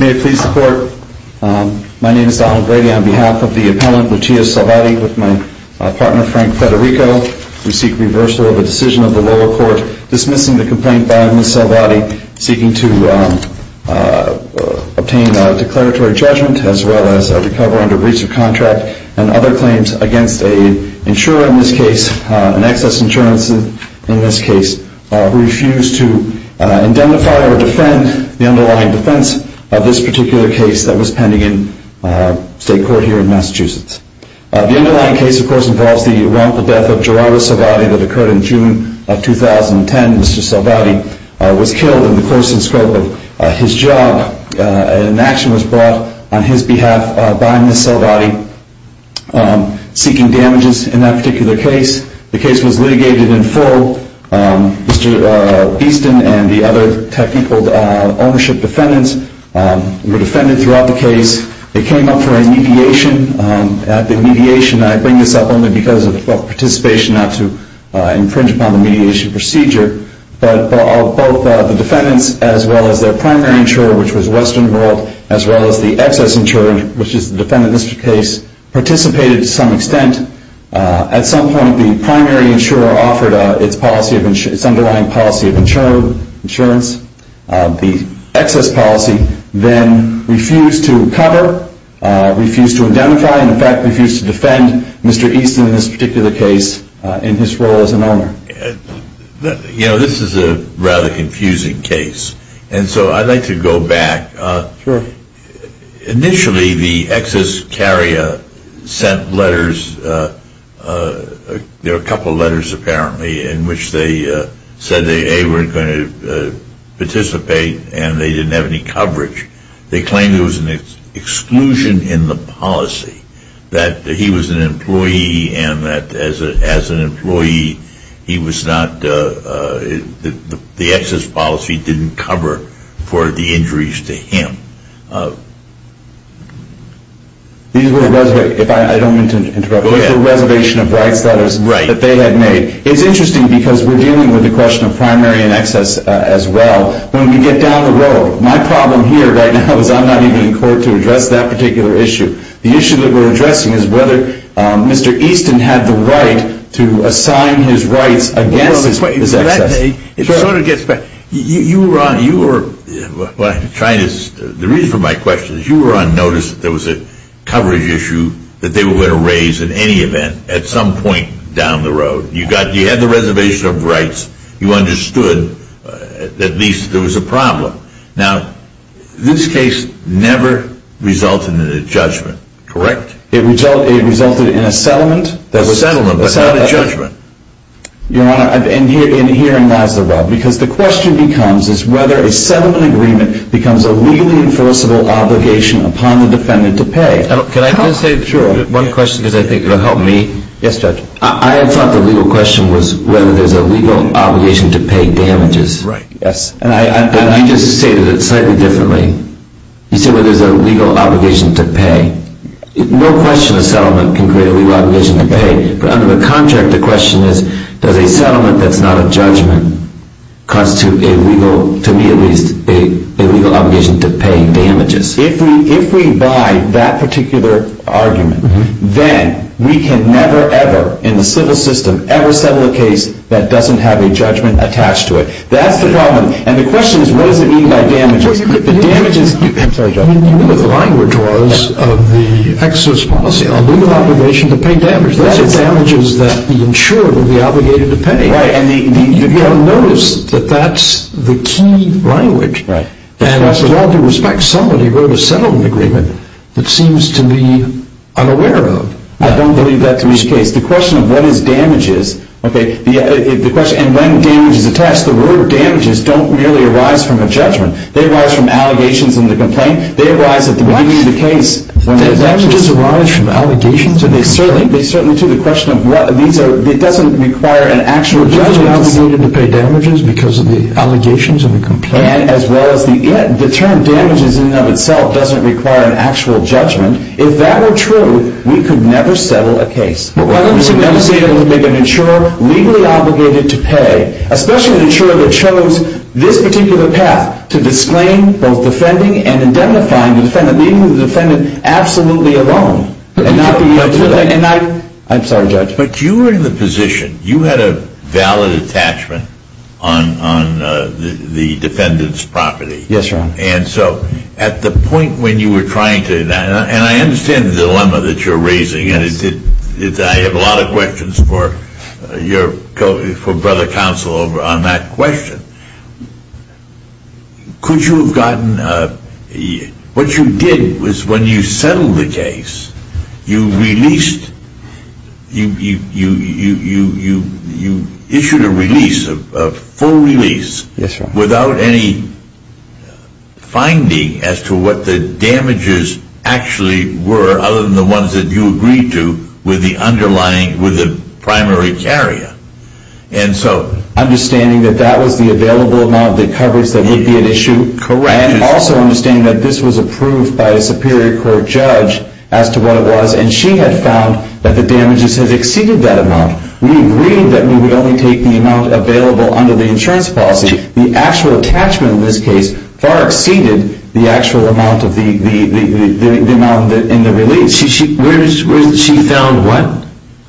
May it please the Court, my name is Donald Brady on behalf of the Appellant Lucia Salvati with my partner Frank Federico. We seek reversal of a decision of the lower court dismissing the complaint by Ms. Salvati seeking to obtain a declaratory judgment as well as a defense of this particular case that was pending in state court here in Massachusetts. The underlying case of course involves the wrongful death of Gerardo Salvati that occurred in June of 2010. Mr. Salvati was killed in the course and scope of his job. An action was brought on his behalf by Ms. Salvati seeking damages in that particular case. The case was litigated in full. Mr. Easton and the other technical ownership defendants were defended throughout the case. They came up for a mediation. I bring this up only because of participation not to infringe upon the mediation procedure. But both the defendants as well as their primary insurer which was Western World as well as the excess insurer which is the defendant in this case participated to some extent. At some point the primary insurer offered its underlying policy of insurance. The excess policy then refused to cover, refused to identify and in fact refused to defend Mr. Easton in this particular case in his role as an owner. You know this is a rather confusing case and so I'd like to go back. Initially the excess carrier sent letters, there were a couple of letters apparently in which they said they were going to participate and they didn't have any coverage. They claimed there was an exclusion in the policy that he was an employee and that as an employee he was not, the excess policy didn't cover for the injuries to him. It's interesting because we're dealing with the question of primary and excess as well. When we get down the road my problem here right now is I'm not even in court to address that particular issue. The issue that we're addressing is whether Mr. Easton had the right to assign his rights against his excess. The reason for my question is you were on notice that there was a coverage issue that they were going to raise in any event at some point down the road. You had the reservation of rights, you understood at least there was a problem. Now this case never resulted in a judgment, correct? It resulted in a settlement. A settlement but not a judgment. Your Honor, and herein lies the rub. Because the question becomes is whether a settlement agreement becomes a legally enforceable obligation upon the defendant to pay. Can I just say one question because I think it will help me? Yes, Judge. I thought the legal question was whether there's a legal obligation to pay damages. Right, yes. And you just stated it slightly differently. You said whether there's a legal obligation to pay. No question a settlement can create a legal obligation to pay. But under the contract the question is does a settlement that's not a judgment constitute a legal, to me at least, a legal obligation to pay damages? If we buy that particular argument, then we can never ever in the civil system ever settle a case that doesn't have a judgment attached to it. That's the problem. And the question is what does it mean by damages? I'm sorry, Judge. You know what the language was of the exodus policy, a legal obligation to pay damages. That is damages that the insurer will be obligated to pay. Right. And you'll notice that that's the key language. Right. And with all due respect, somebody wrote a settlement agreement that seems to be unaware of. I don't believe that to be the case. The question of what is damages, okay, and when damage is attached, the word damages don't really arise from a judgment. They arise from allegations in the complaint. They arise at the beginning of the case. What? Damages arise from allegations in the complaint? They certainly do. The question of what these are, it doesn't require an actual judgment. Isn't it obligated to pay damages because of the allegations in the complaint? And as well as the term damages in and of itself doesn't require an actual judgment. If that were true, we could never settle a case. Well, I'm not saying it would make an insurer legally obligated to pay, especially an insurer that chose this particular path to disclaim both defending and indemnifying the defendant, leaving the defendant absolutely alone. I'm sorry, Judge. But you were in the position, you had a valid attachment on the defendant's property. Yes, Your Honor. And so at the point when you were trying to, and I understand the dilemma that you're raising, and I have a lot of questions for your, for brother counsel on that question. Could you have gotten, what you did was when you settled the case, you released, you issued a release, a full release. Yes, Your Honor. Without any finding as to what the damages actually were, other than the ones that you agreed to with the underlying, with the primary carrier. And so, Understanding that that was the available amount of the coverage that would be at issue. Correct. And also understanding that this was approved by a superior court judge as to what it was, and she had found that the damages had exceeded that amount. We agreed that we would only take the amount available under the insurance policy. The actual attachment in this case far exceeded the actual amount of the, the amount in the release. She found what?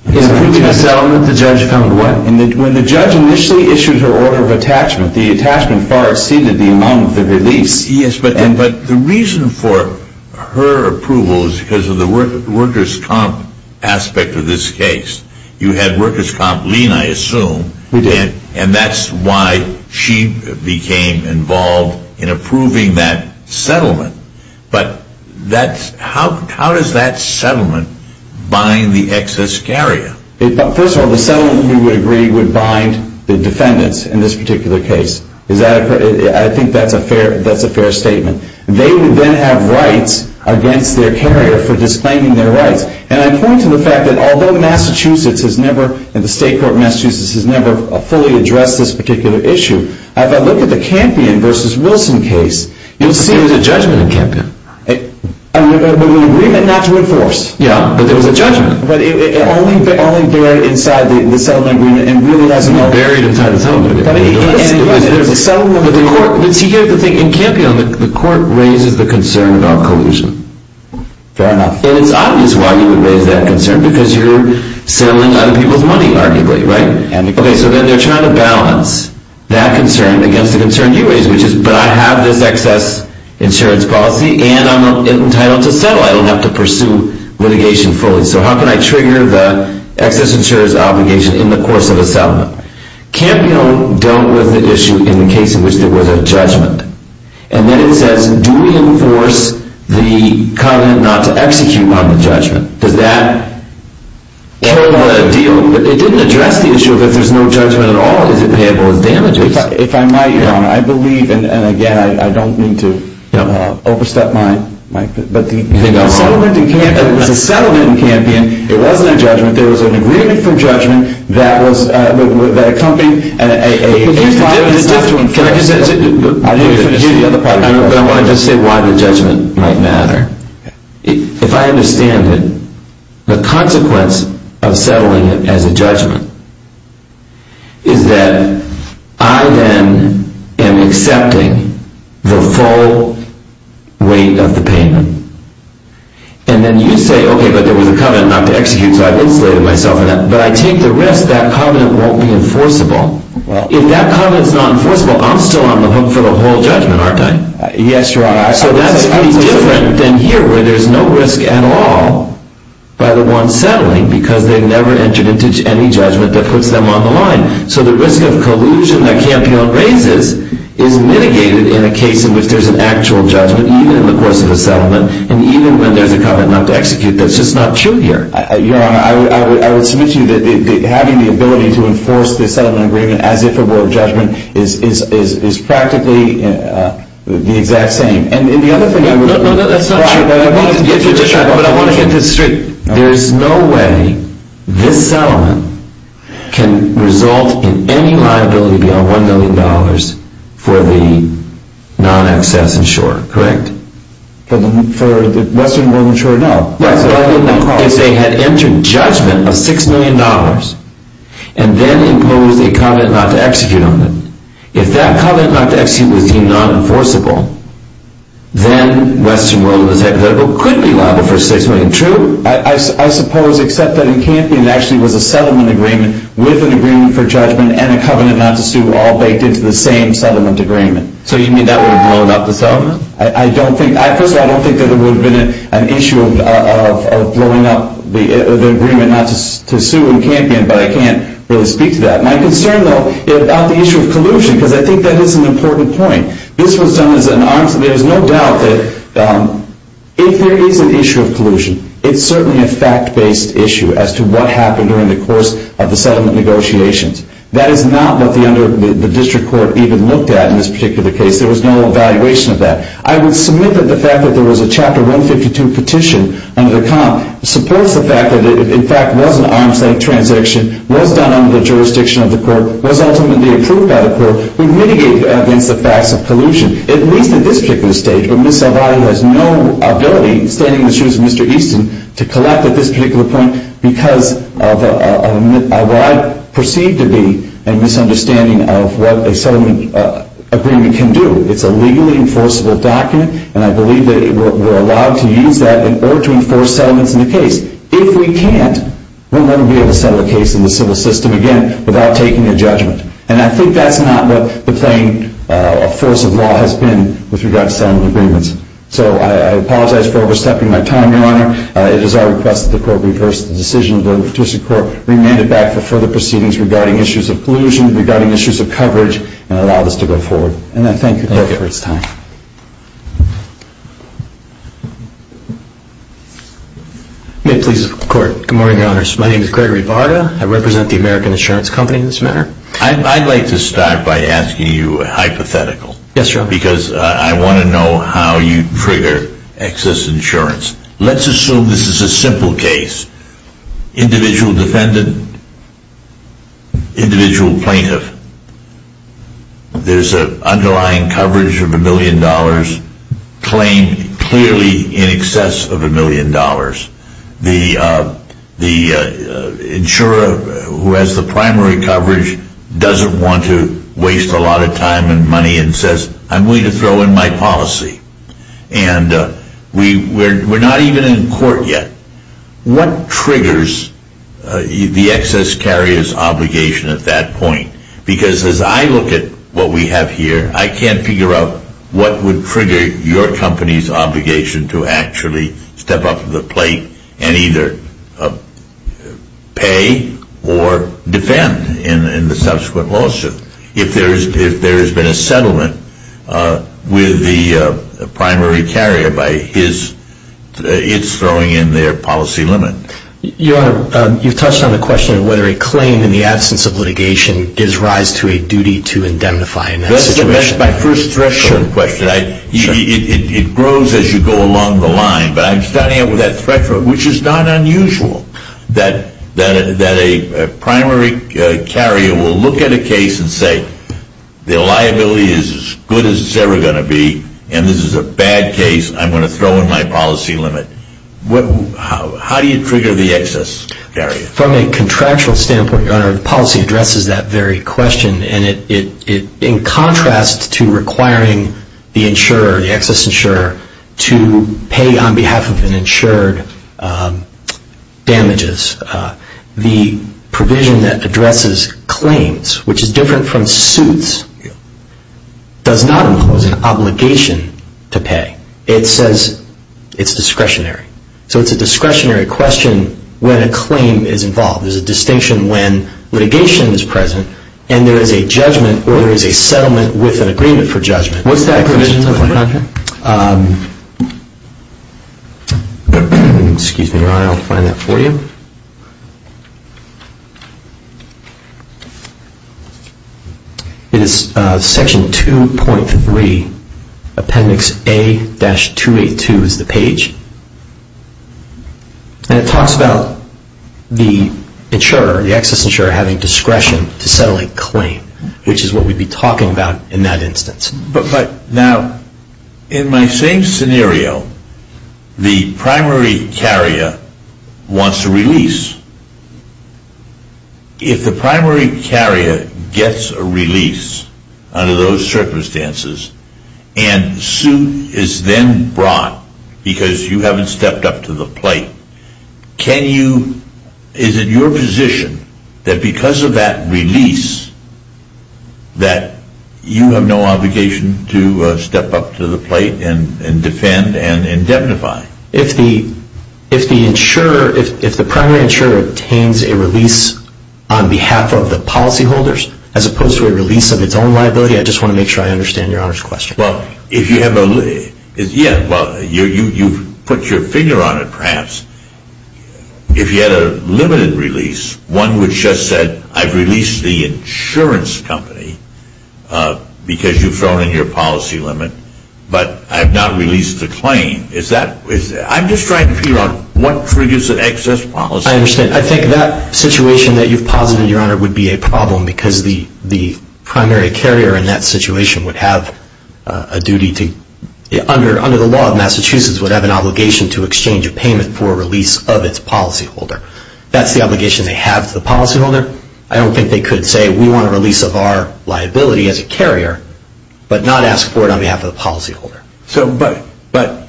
In the previous settlement, the judge found what? When the judge initially issued her order of attachment, the attachment far exceeded the amount of the release. Yes, but the reason for her approval is because of the workers' comp aspect of this case. You had workers' comp lien, I assume. We did. And that's why she became involved in approving that settlement. But that's, how does that settlement bind the excess carrier? First of all, the settlement we would agree would bind the defendants in this particular case. Is that, I think that's a fair statement. They would then have rights against their carrier for disclaiming their rights. And I point to the fact that although Massachusetts has never, and the state court of Massachusetts has never fully addressed this particular issue, if I look at the Campion versus Wilson case, you'll see. There was a judgment in Campion. An agreement not to enforce. Yeah, but there was a judgment. But it only buried inside the settlement agreement and really doesn't. Buried inside the settlement. There's a settlement agreement. But the court, let's hear the thing. In Campion, the court raises the concern about collusion. Fair enough. And it's obvious why you would raise that concern, because you're selling other people's money, arguably, right? Okay, so then they're trying to balance that concern against the concern you raised, which is, but I have this excess insurance policy and I'm entitled to settle. I don't have to pursue litigation fully. Campion dealt with the issue in the case in which there was a judgment. And then it says, do we enforce the comment not to execute on the judgment? Does that kill the deal? It didn't address the issue of if there's no judgment at all, is it payable as damages? If I might, Your Honor, I believe, and again, I don't mean to overstep my, but the settlement in Campion, it wasn't a judgment. There was an agreement for judgment that was, that accompanied a, a, a. But here's why it's not to enforce. Can I just, can I hear the other part of your argument? But I want to just say why the judgment might matter. If I understand it, the consequence of settling it as a judgment is that I then am accepting the full weight of the payment. And then you say, okay, but there was a comment not to execute, so I've insulated myself in that. But I take the risk that comment won't be enforceable. If that comment is not enforceable, I'm still on the hook for the whole judgment, aren't I? Yes, Your Honor. So that's pretty different than here where there's no risk at all by the one settling because they've never entered into any judgment that puts them on the line. So the risk of collusion that Campion raises is mitigated in a case in which there's an actual judgment, even in the course of a settlement. And even when there's a comment not to execute, that's just not true here. Your Honor, I would, I would, I would submit to you that having the ability to enforce the settlement agreement as if it were a judgment is, is, is practically the exact same. And the other thing I would. No, no, no, that's not true. But I want to get this straight. There's no way this settlement can result in any liability beyond $1 million for the non-excess insurer, correct? For the Western World Insurer, no. What I didn't mean is they had entered judgment of $6 million and then imposed a comment not to execute on it. If that comment not to execute was deemed non-enforceable, then Western World Insurer could be liable for $6 million. True? I suppose, except that in Campion, it actually was a settlement agreement with an agreement for judgment and a covenant not to sue all baked into the same settlement agreement. So you mean that would have blown up the settlement? I don't think, first of all, I don't think that it would have been an issue of, of, of blowing up the agreement not to sue in Campion, but I can't really speak to that. My concern, though, is about the issue of collusion, because I think that is an important point. This was done as an arms, there's no doubt that if there is an issue of collusion, it's certainly a fact-based issue as to what happened during the course of the settlement negotiations. That is not what the District Court even looked at in this particular case. There was no evaluation of that. I would submit that the fact that there was a Chapter 152 petition under the comp supports the fact that it, in fact, was an arms-length transaction, was done under the jurisdiction of the court, was ultimately approved by the court, and mitigated against the facts of collusion, at least at this particular stage. But Ms. Salvati has no ability, standing in the shoes of Mr. Easton, to collect at this particular point because of what I perceive to be a misunderstanding of what a settlement agreement can do. It's a legally enforceable document, and I believe that we're allowed to use that in order to enforce settlements in the case. If we can't, we'll never be able to settle a case in the civil system again without taking a judgment. And I think that's not what the plain force of law has been with regard to settlement agreements. So I apologize for overstepping my time, Your Honor. It is our request that the court reverse the decision of the District Court, remand it back for further proceedings regarding issues of collusion, regarding issues of coverage, and allow this to go forward. And I thank you for your time. May it please the Court. Good morning, Your Honors. My name is Gregory Varda. I represent the American Insurance Company in this matter. I'd like to start by asking you a hypothetical. Yes, Your Honor. Because I want to know how you trigger excess insurance. Let's assume this is a simple case. Individual defendant, individual plaintiff. There's an underlying coverage of a million dollars claimed clearly in excess of a million dollars. The insurer who has the primary coverage doesn't want to waste a lot of time and money and says, I'm willing to throw in my policy. And we're not even in court yet. What triggers the excess carrier's obligation at that point? Because as I look at what we have here, I can't figure out what would trigger your company's obligation to actually step up to the plate and either pay or defend in the subsequent lawsuit. If there has been a settlement with the primary carrier, it's throwing in their policy limit. Your Honor, you've touched on the question of whether a claim in the absence of litigation gives rise to a duty to indemnify. That's my first threshold question. It grows as you go along the line. But I'm starting out with that threshold, which is not unusual. That a primary carrier will look at a case and say, the liability is as good as it's ever going to be, and this is a bad case, I'm going to throw in my policy limit. How do you trigger the excess carrier? From a contractual standpoint, Your Honor, the policy addresses that very question. In contrast to requiring the insurer, the excess insurer, to pay on behalf of an insured damages, the provision that addresses claims, which is different from suits, does not impose an obligation to pay. It says it's discretionary. So it's a discretionary question when a claim is involved. There's a distinction when litigation is present, and there is a judgment or there is a settlement with an agreement for judgment. What's that provision? Excuse me, Your Honor, I'll find that for you. It is section 2.3, appendix A-282 is the page. And it talks about the insurer, the excess insurer, having discretion to settle a claim, which is what we'd be talking about in that instance. But now, in my same scenario, the primary carrier wants a release. If the primary carrier gets a release under those circumstances, and suit is then brought because you haven't stepped up to the plate, is it your position that because of that release that you have no obligation to step up to the plate and defend and indemnify? If the primary insurer obtains a release on behalf of the policyholders, as opposed to a release of its own liability, I just want to make sure I understand Your Honor's question. Well, you've put your finger on it, perhaps. If you had a limited release, one which just said, I've released the insurance company because you've thrown in your policy limit, but I've not released the claim. I'm just trying to figure out what triggers an excess policy. I understand. I think that situation that you've posited, Your Honor, would be a problem because the primary carrier in that situation would have a duty to, under the law of Massachusetts, would have an obligation to exchange a payment for a release of its policyholder. That's the obligation they have to the policyholder. I don't think they could say, we want a release of our liability as a carrier, but not ask for it on behalf of the policyholder. But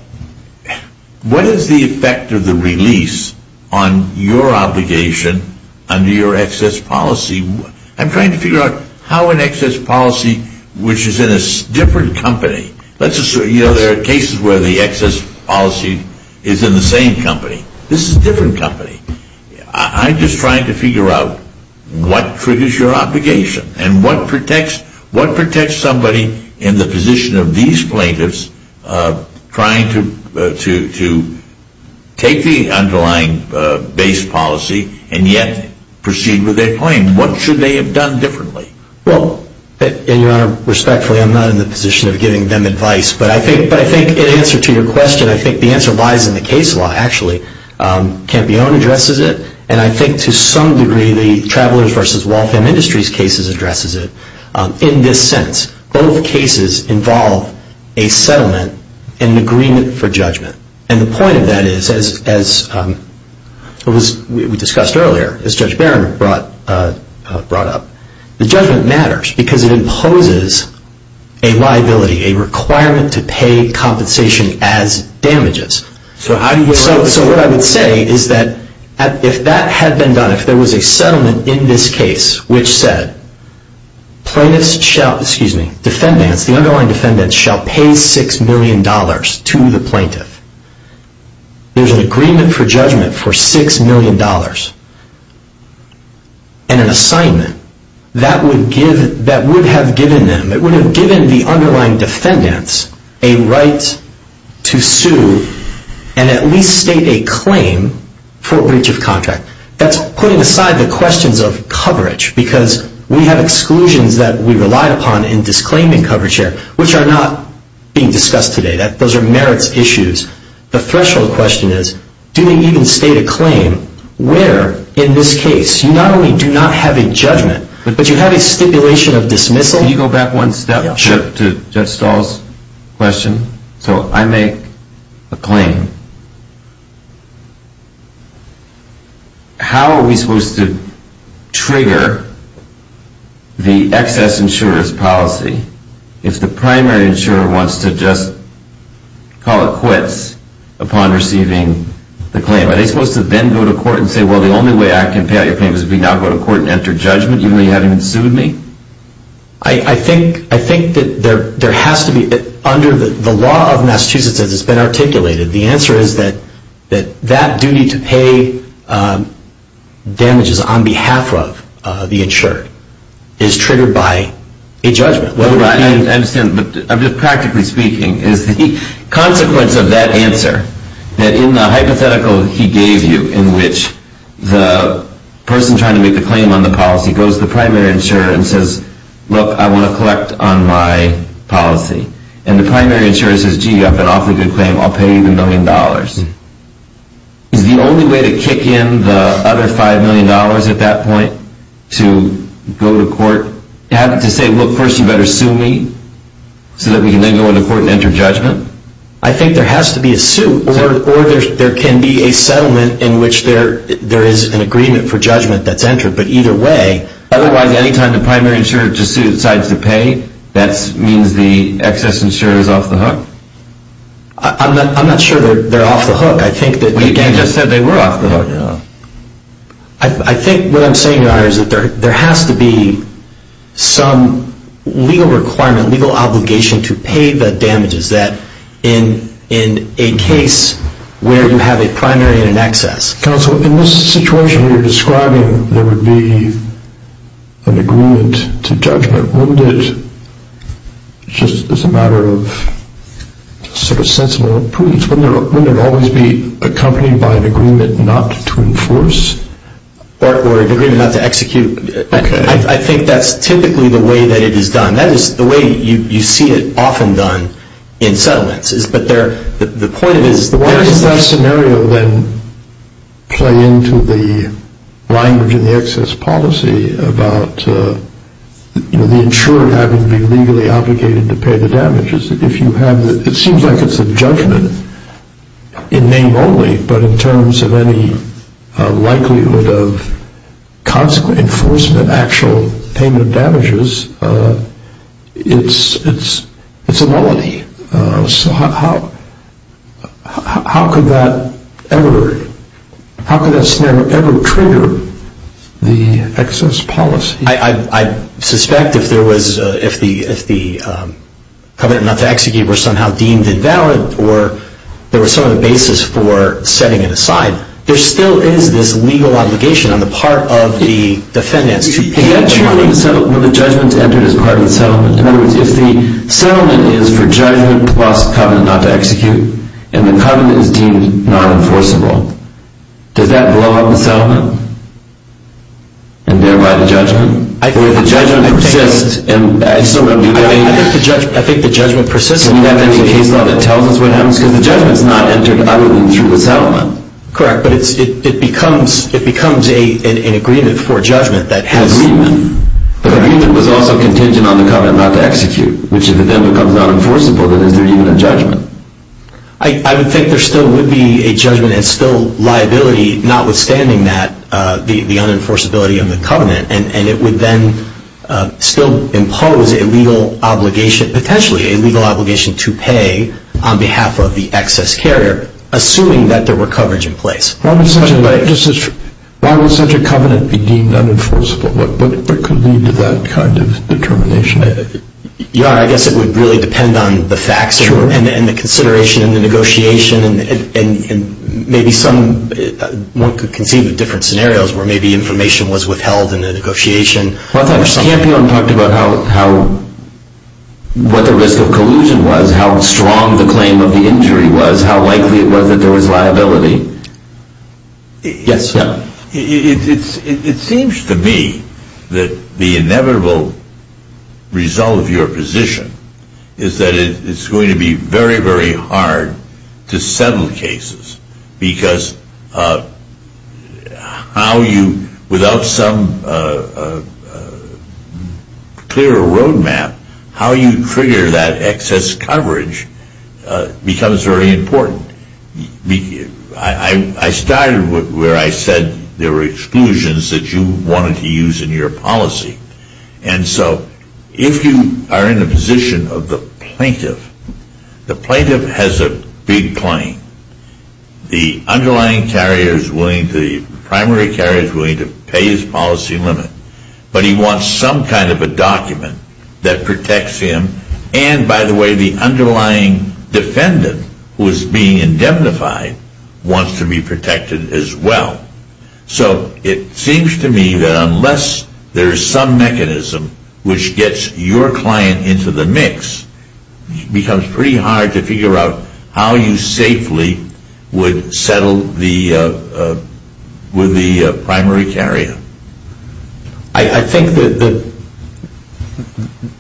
what is the effect of the release on your obligation under your excess policy? I'm trying to figure out how an excess policy, which is in a different company. There are cases where the excess policy is in the same company. This is a different company. I'm just trying to figure out what triggers your obligation and what protects somebody in the position of these plaintiffs trying to take the underlying base policy and yet proceed with their claim. What should they have done differently? Well, Your Honor, respectfully, I'm not in the position of giving them advice. But I think in answer to your question, I think the answer lies in the case law, actually. Campione addresses it, and I think to some degree the Travelers v. Waltham Industries cases addresses it. In this sense, both cases involve a settlement and an agreement for judgment. And the point of that is, as we discussed earlier, as Judge Barron brought up, the judgment matters because it imposes a liability, a requirement to pay compensation as damages. So what I would say is that if that had been done, if there was a settlement in this case which said, plaintiffs shall, excuse me, defendants, the underlying defendants shall pay $6 million to the plaintiff, there's an agreement for judgment for $6 million, and an assignment that would have given them, that would have given the underlying defendants a right to sue and at least state a claim for breach of contract. That's putting aside the questions of coverage because we have exclusions that we relied upon in disclaiming coverage here, which are not being discussed today. Those are merits issues. The threshold question is, do they even state a claim where in this case you not only do not have a judgment, but you have a stipulation of dismissal? Can you go back one step to Judge Stahl's question? So I make a claim. How are we supposed to trigger the excess insurer's policy if the primary insurer wants to just call it quits? Upon receiving the claim. Are they supposed to then go to court and say, well, the only way I can pay out your claim is if you now go to court and enter judgment even though you haven't sued me? I think that there has to be, under the law of Massachusetts as it's been articulated, the answer is that that duty to pay damages on behalf of the insured is triggered by a judgment. I'm just practically speaking. It's the consequence of that answer that in the hypothetical he gave you in which the person trying to make a claim on the policy goes to the primary insurer and says, look, I want to collect on my policy. And the primary insurer says, gee, you have an awfully good claim. I'll pay you the million dollars. Is the only way to kick in the other $5 million at that point to go to court to say, look, first you better sue me so that we can then go into court and enter judgment? I think there has to be a suit or there can be a settlement in which there is an agreement for judgment that's entered. But either way. Otherwise, any time the primary insurer decides to pay, that means the excess insurer is off the hook? I'm not sure they're off the hook. He just said they were off the hook. I think what I'm saying is that there has to be some legal requirement, legal obligation to pay the damages that in a case where you have a primary and an excess. Counsel, in this situation you're describing, there would be an agreement to judgment. Wouldn't it, just as a matter of sort of sensible prudence, wouldn't it always be accompanied by an agreement not to enforce? Or an agreement not to execute. I think that's typically the way that it is done. That is the way you see it often done in settlements. Where does that scenario then play into the language in the excess policy about the insurer having to be legally obligated to pay the damages? It seems like it's a judgment in name only, but in terms of any likelihood of consequent enforcement of actual payment of damages, it's a melody. So how could that ever, how could that scenario ever trigger the excess policy? I suspect if there was, if the covenant not to execute were somehow deemed invalid, or there was some other basis for setting it aside, there still is this legal obligation on the part of the defendants to pay the money. When the judgment's entered as part of the settlement, in other words, if the settlement is for judgment plus covenant not to execute, and the covenant is deemed non-enforceable, does that blow up the settlement? And thereby the judgment? I think the judgment persists. I think the judgment persists. Isn't that the case law that tells us what happens? Because the judgment's not entered other than through the settlement. Correct, but it becomes an agreement for judgment that has... Agreement. The agreement was also contingent on the covenant not to execute, which if it then becomes non-enforceable, then is there even a judgment? I would think there still would be a judgment and still liability, notwithstanding that, the unenforceability of the covenant, and it would then still impose a legal obligation, potentially a legal obligation to pay on behalf of the excess carrier, assuming that there were coverage in place. Why would such a covenant be deemed non-enforceable? What could lead to that kind of determination? I guess it would really depend on the facts and the consideration and the negotiation, and maybe one could conceive of different scenarios where maybe information was withheld in the negotiation. I thought Champion talked about what the risk of collusion was, how strong the claim of the injury was, how likely it was that there was liability. Yes, yeah. It seems to me that the inevitable result of your position is that it's going to be very, very hard to settle cases because without some clear roadmap, how you trigger that excess coverage becomes very important. I started where I said there were exclusions that you wanted to use in your policy, and so if you are in a position of the plaintiff, the plaintiff has a big claim. The underlying carrier is willing to, the primary carrier is willing to pay his policy limit, but he wants some kind of a document that protects him, and by the way, the underlying defendant who is being indemnified wants to be protected as well. So it seems to me that unless there is some mechanism which gets your client into the mix, it becomes pretty hard to figure out how you safely would settle with the primary carrier. I think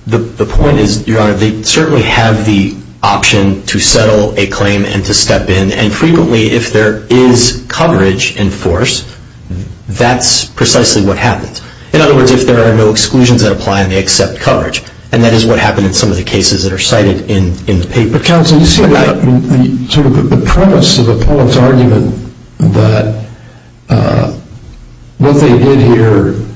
the point is, Your Honor, they certainly have the option to settle a claim and to step in, and frequently if there is coverage in force, that's precisely what happens. In other words, if there are no exclusions that apply and they accept coverage, and that is what happened in some of the cases that are cited in the paper. But counsel, you see the premise of the Pollock's argument that what they did here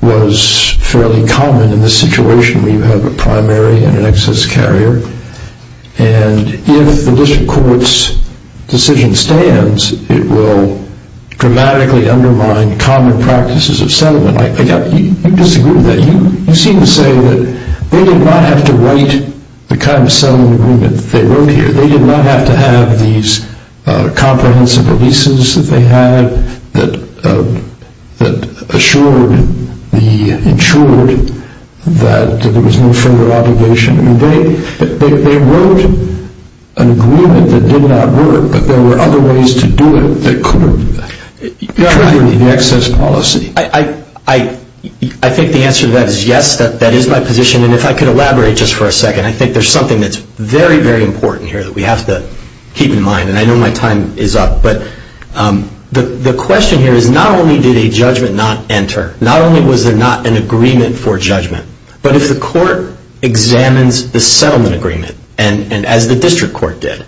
was fairly common in this situation where you have a primary and an excess carrier, and if the district court's decision stands, it will dramatically undermine common practices of settlement. I think you disagree with that. You seem to say that they did not have to write the kind of settlement agreement that they wrote here. They did not have to have these comprehensive releases that they had that assured, ensured that there was no further obligation. They wrote an agreement that did not work, but there were other ways to do it that could have triggered the excess policy. I think the answer to that is yes, that is my position, and if I could elaborate just for a second, I think there is something that is very, very important here that we have to keep in mind, and I know my time is up, but the question here is not only did a judgment not enter, not only was there not an agreement for judgment, but if the court examines the settlement agreement, and as the district court did,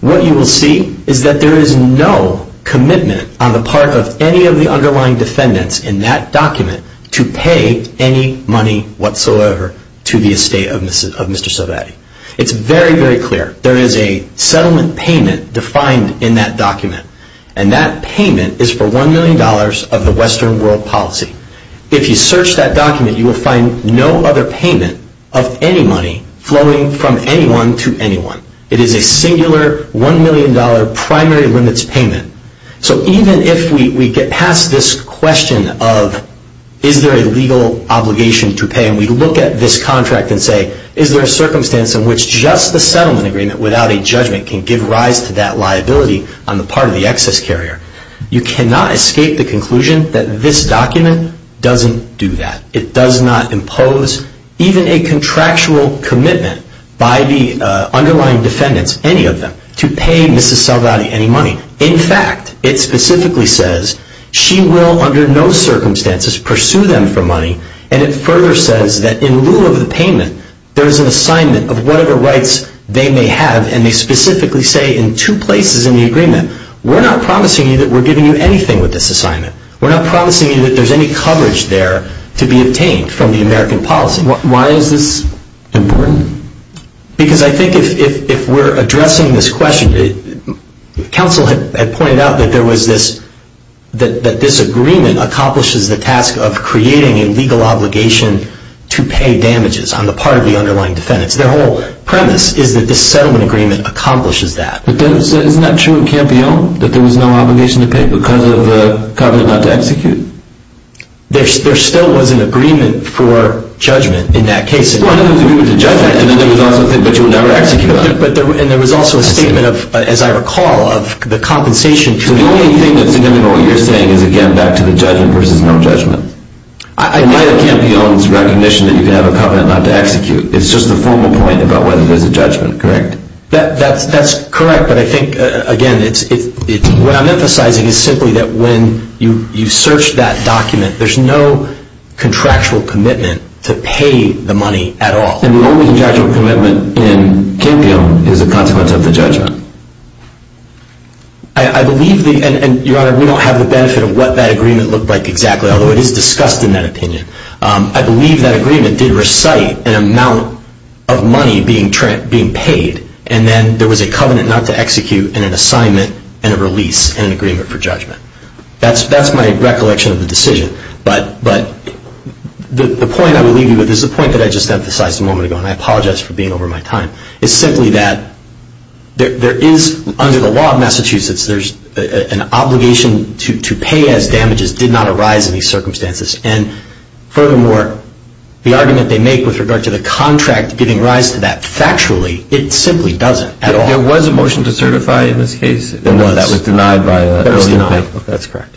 what you will see is that there is no commitment on the part of any of the underlying defendants in that document to pay any money whatsoever to the estate of Mr. Sovatti. It is very, very clear. There is a settlement payment defined in that document, and that payment is for $1 million of the Western World Policy. If you search that document, you will find no other payment of any money flowing from anyone to anyone. It is a singular $1 million primary limits payment. So even if we get past this question of is there a legal obligation to pay, and we look at this contract and say is there a circumstance in which just the settlement agreement without a judgment can give rise to that liability on the part of the excess carrier, you cannot escape the conclusion that this document doesn't do that. It does not impose even a contractual commitment by the underlying defendants, any of them, to pay Mrs. Sovatti any money. In fact, it specifically says she will under no circumstances pursue them for money, and it further says that in lieu of the payment, there is an assignment of whatever rights they may have, and they specifically say in two places in the agreement, we're not promising you that we're giving you anything with this assignment. We're not promising you that there's any coverage there to be obtained from the American policy. Why is this important? Because I think if we're addressing this question, counsel had pointed out that there was this, that this agreement accomplishes the task of creating a legal obligation to pay damages on the part of the underlying defendants. Their whole premise is that this settlement agreement accomplishes that. But then isn't that true of Campione, that there was no obligation to pay because of the covenant not to execute? There still was an agreement for judgment in that case. But you'll never execute on it. And there was also a statement of, as I recall, of the compensation. So the only thing that's significant in what you're saying is, again, back to the judgment versus no judgment. It might have been Campione's recognition that you can have a covenant not to execute. It's just a formal point about whether there's a judgment, correct? That's correct, but I think, again, what I'm emphasizing is simply that when you search that document, there's no contractual commitment to pay the money at all. And the only contractual commitment in Campione is a consequence of the judgment. I believe, and Your Honor, we don't have the benefit of what that agreement looked like exactly, although it is discussed in that opinion. I believe that agreement did recite an amount of money being paid, and then there was a covenant not to execute and an assignment and a release and an agreement for judgment. That's my recollection of the decision. But the point I would leave you with is the point that I just emphasized a moment ago, and I apologize for being over my time, is simply that there is, under the law of Massachusetts, there's an obligation to pay as damages did not arise in these circumstances. And furthermore, the argument they make with regard to the contract giving rise to that, factually, it simply doesn't at all. There was a motion to certify in this case. There was. And it was denied by early in the case. It was denied. That's correct.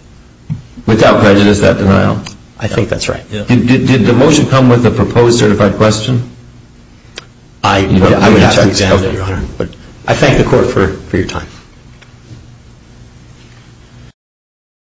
Without prejudice, that denial? I think that's right. Did the motion come with a proposed certified question? I would have to examine it, Your Honor. I thank the Court for your time.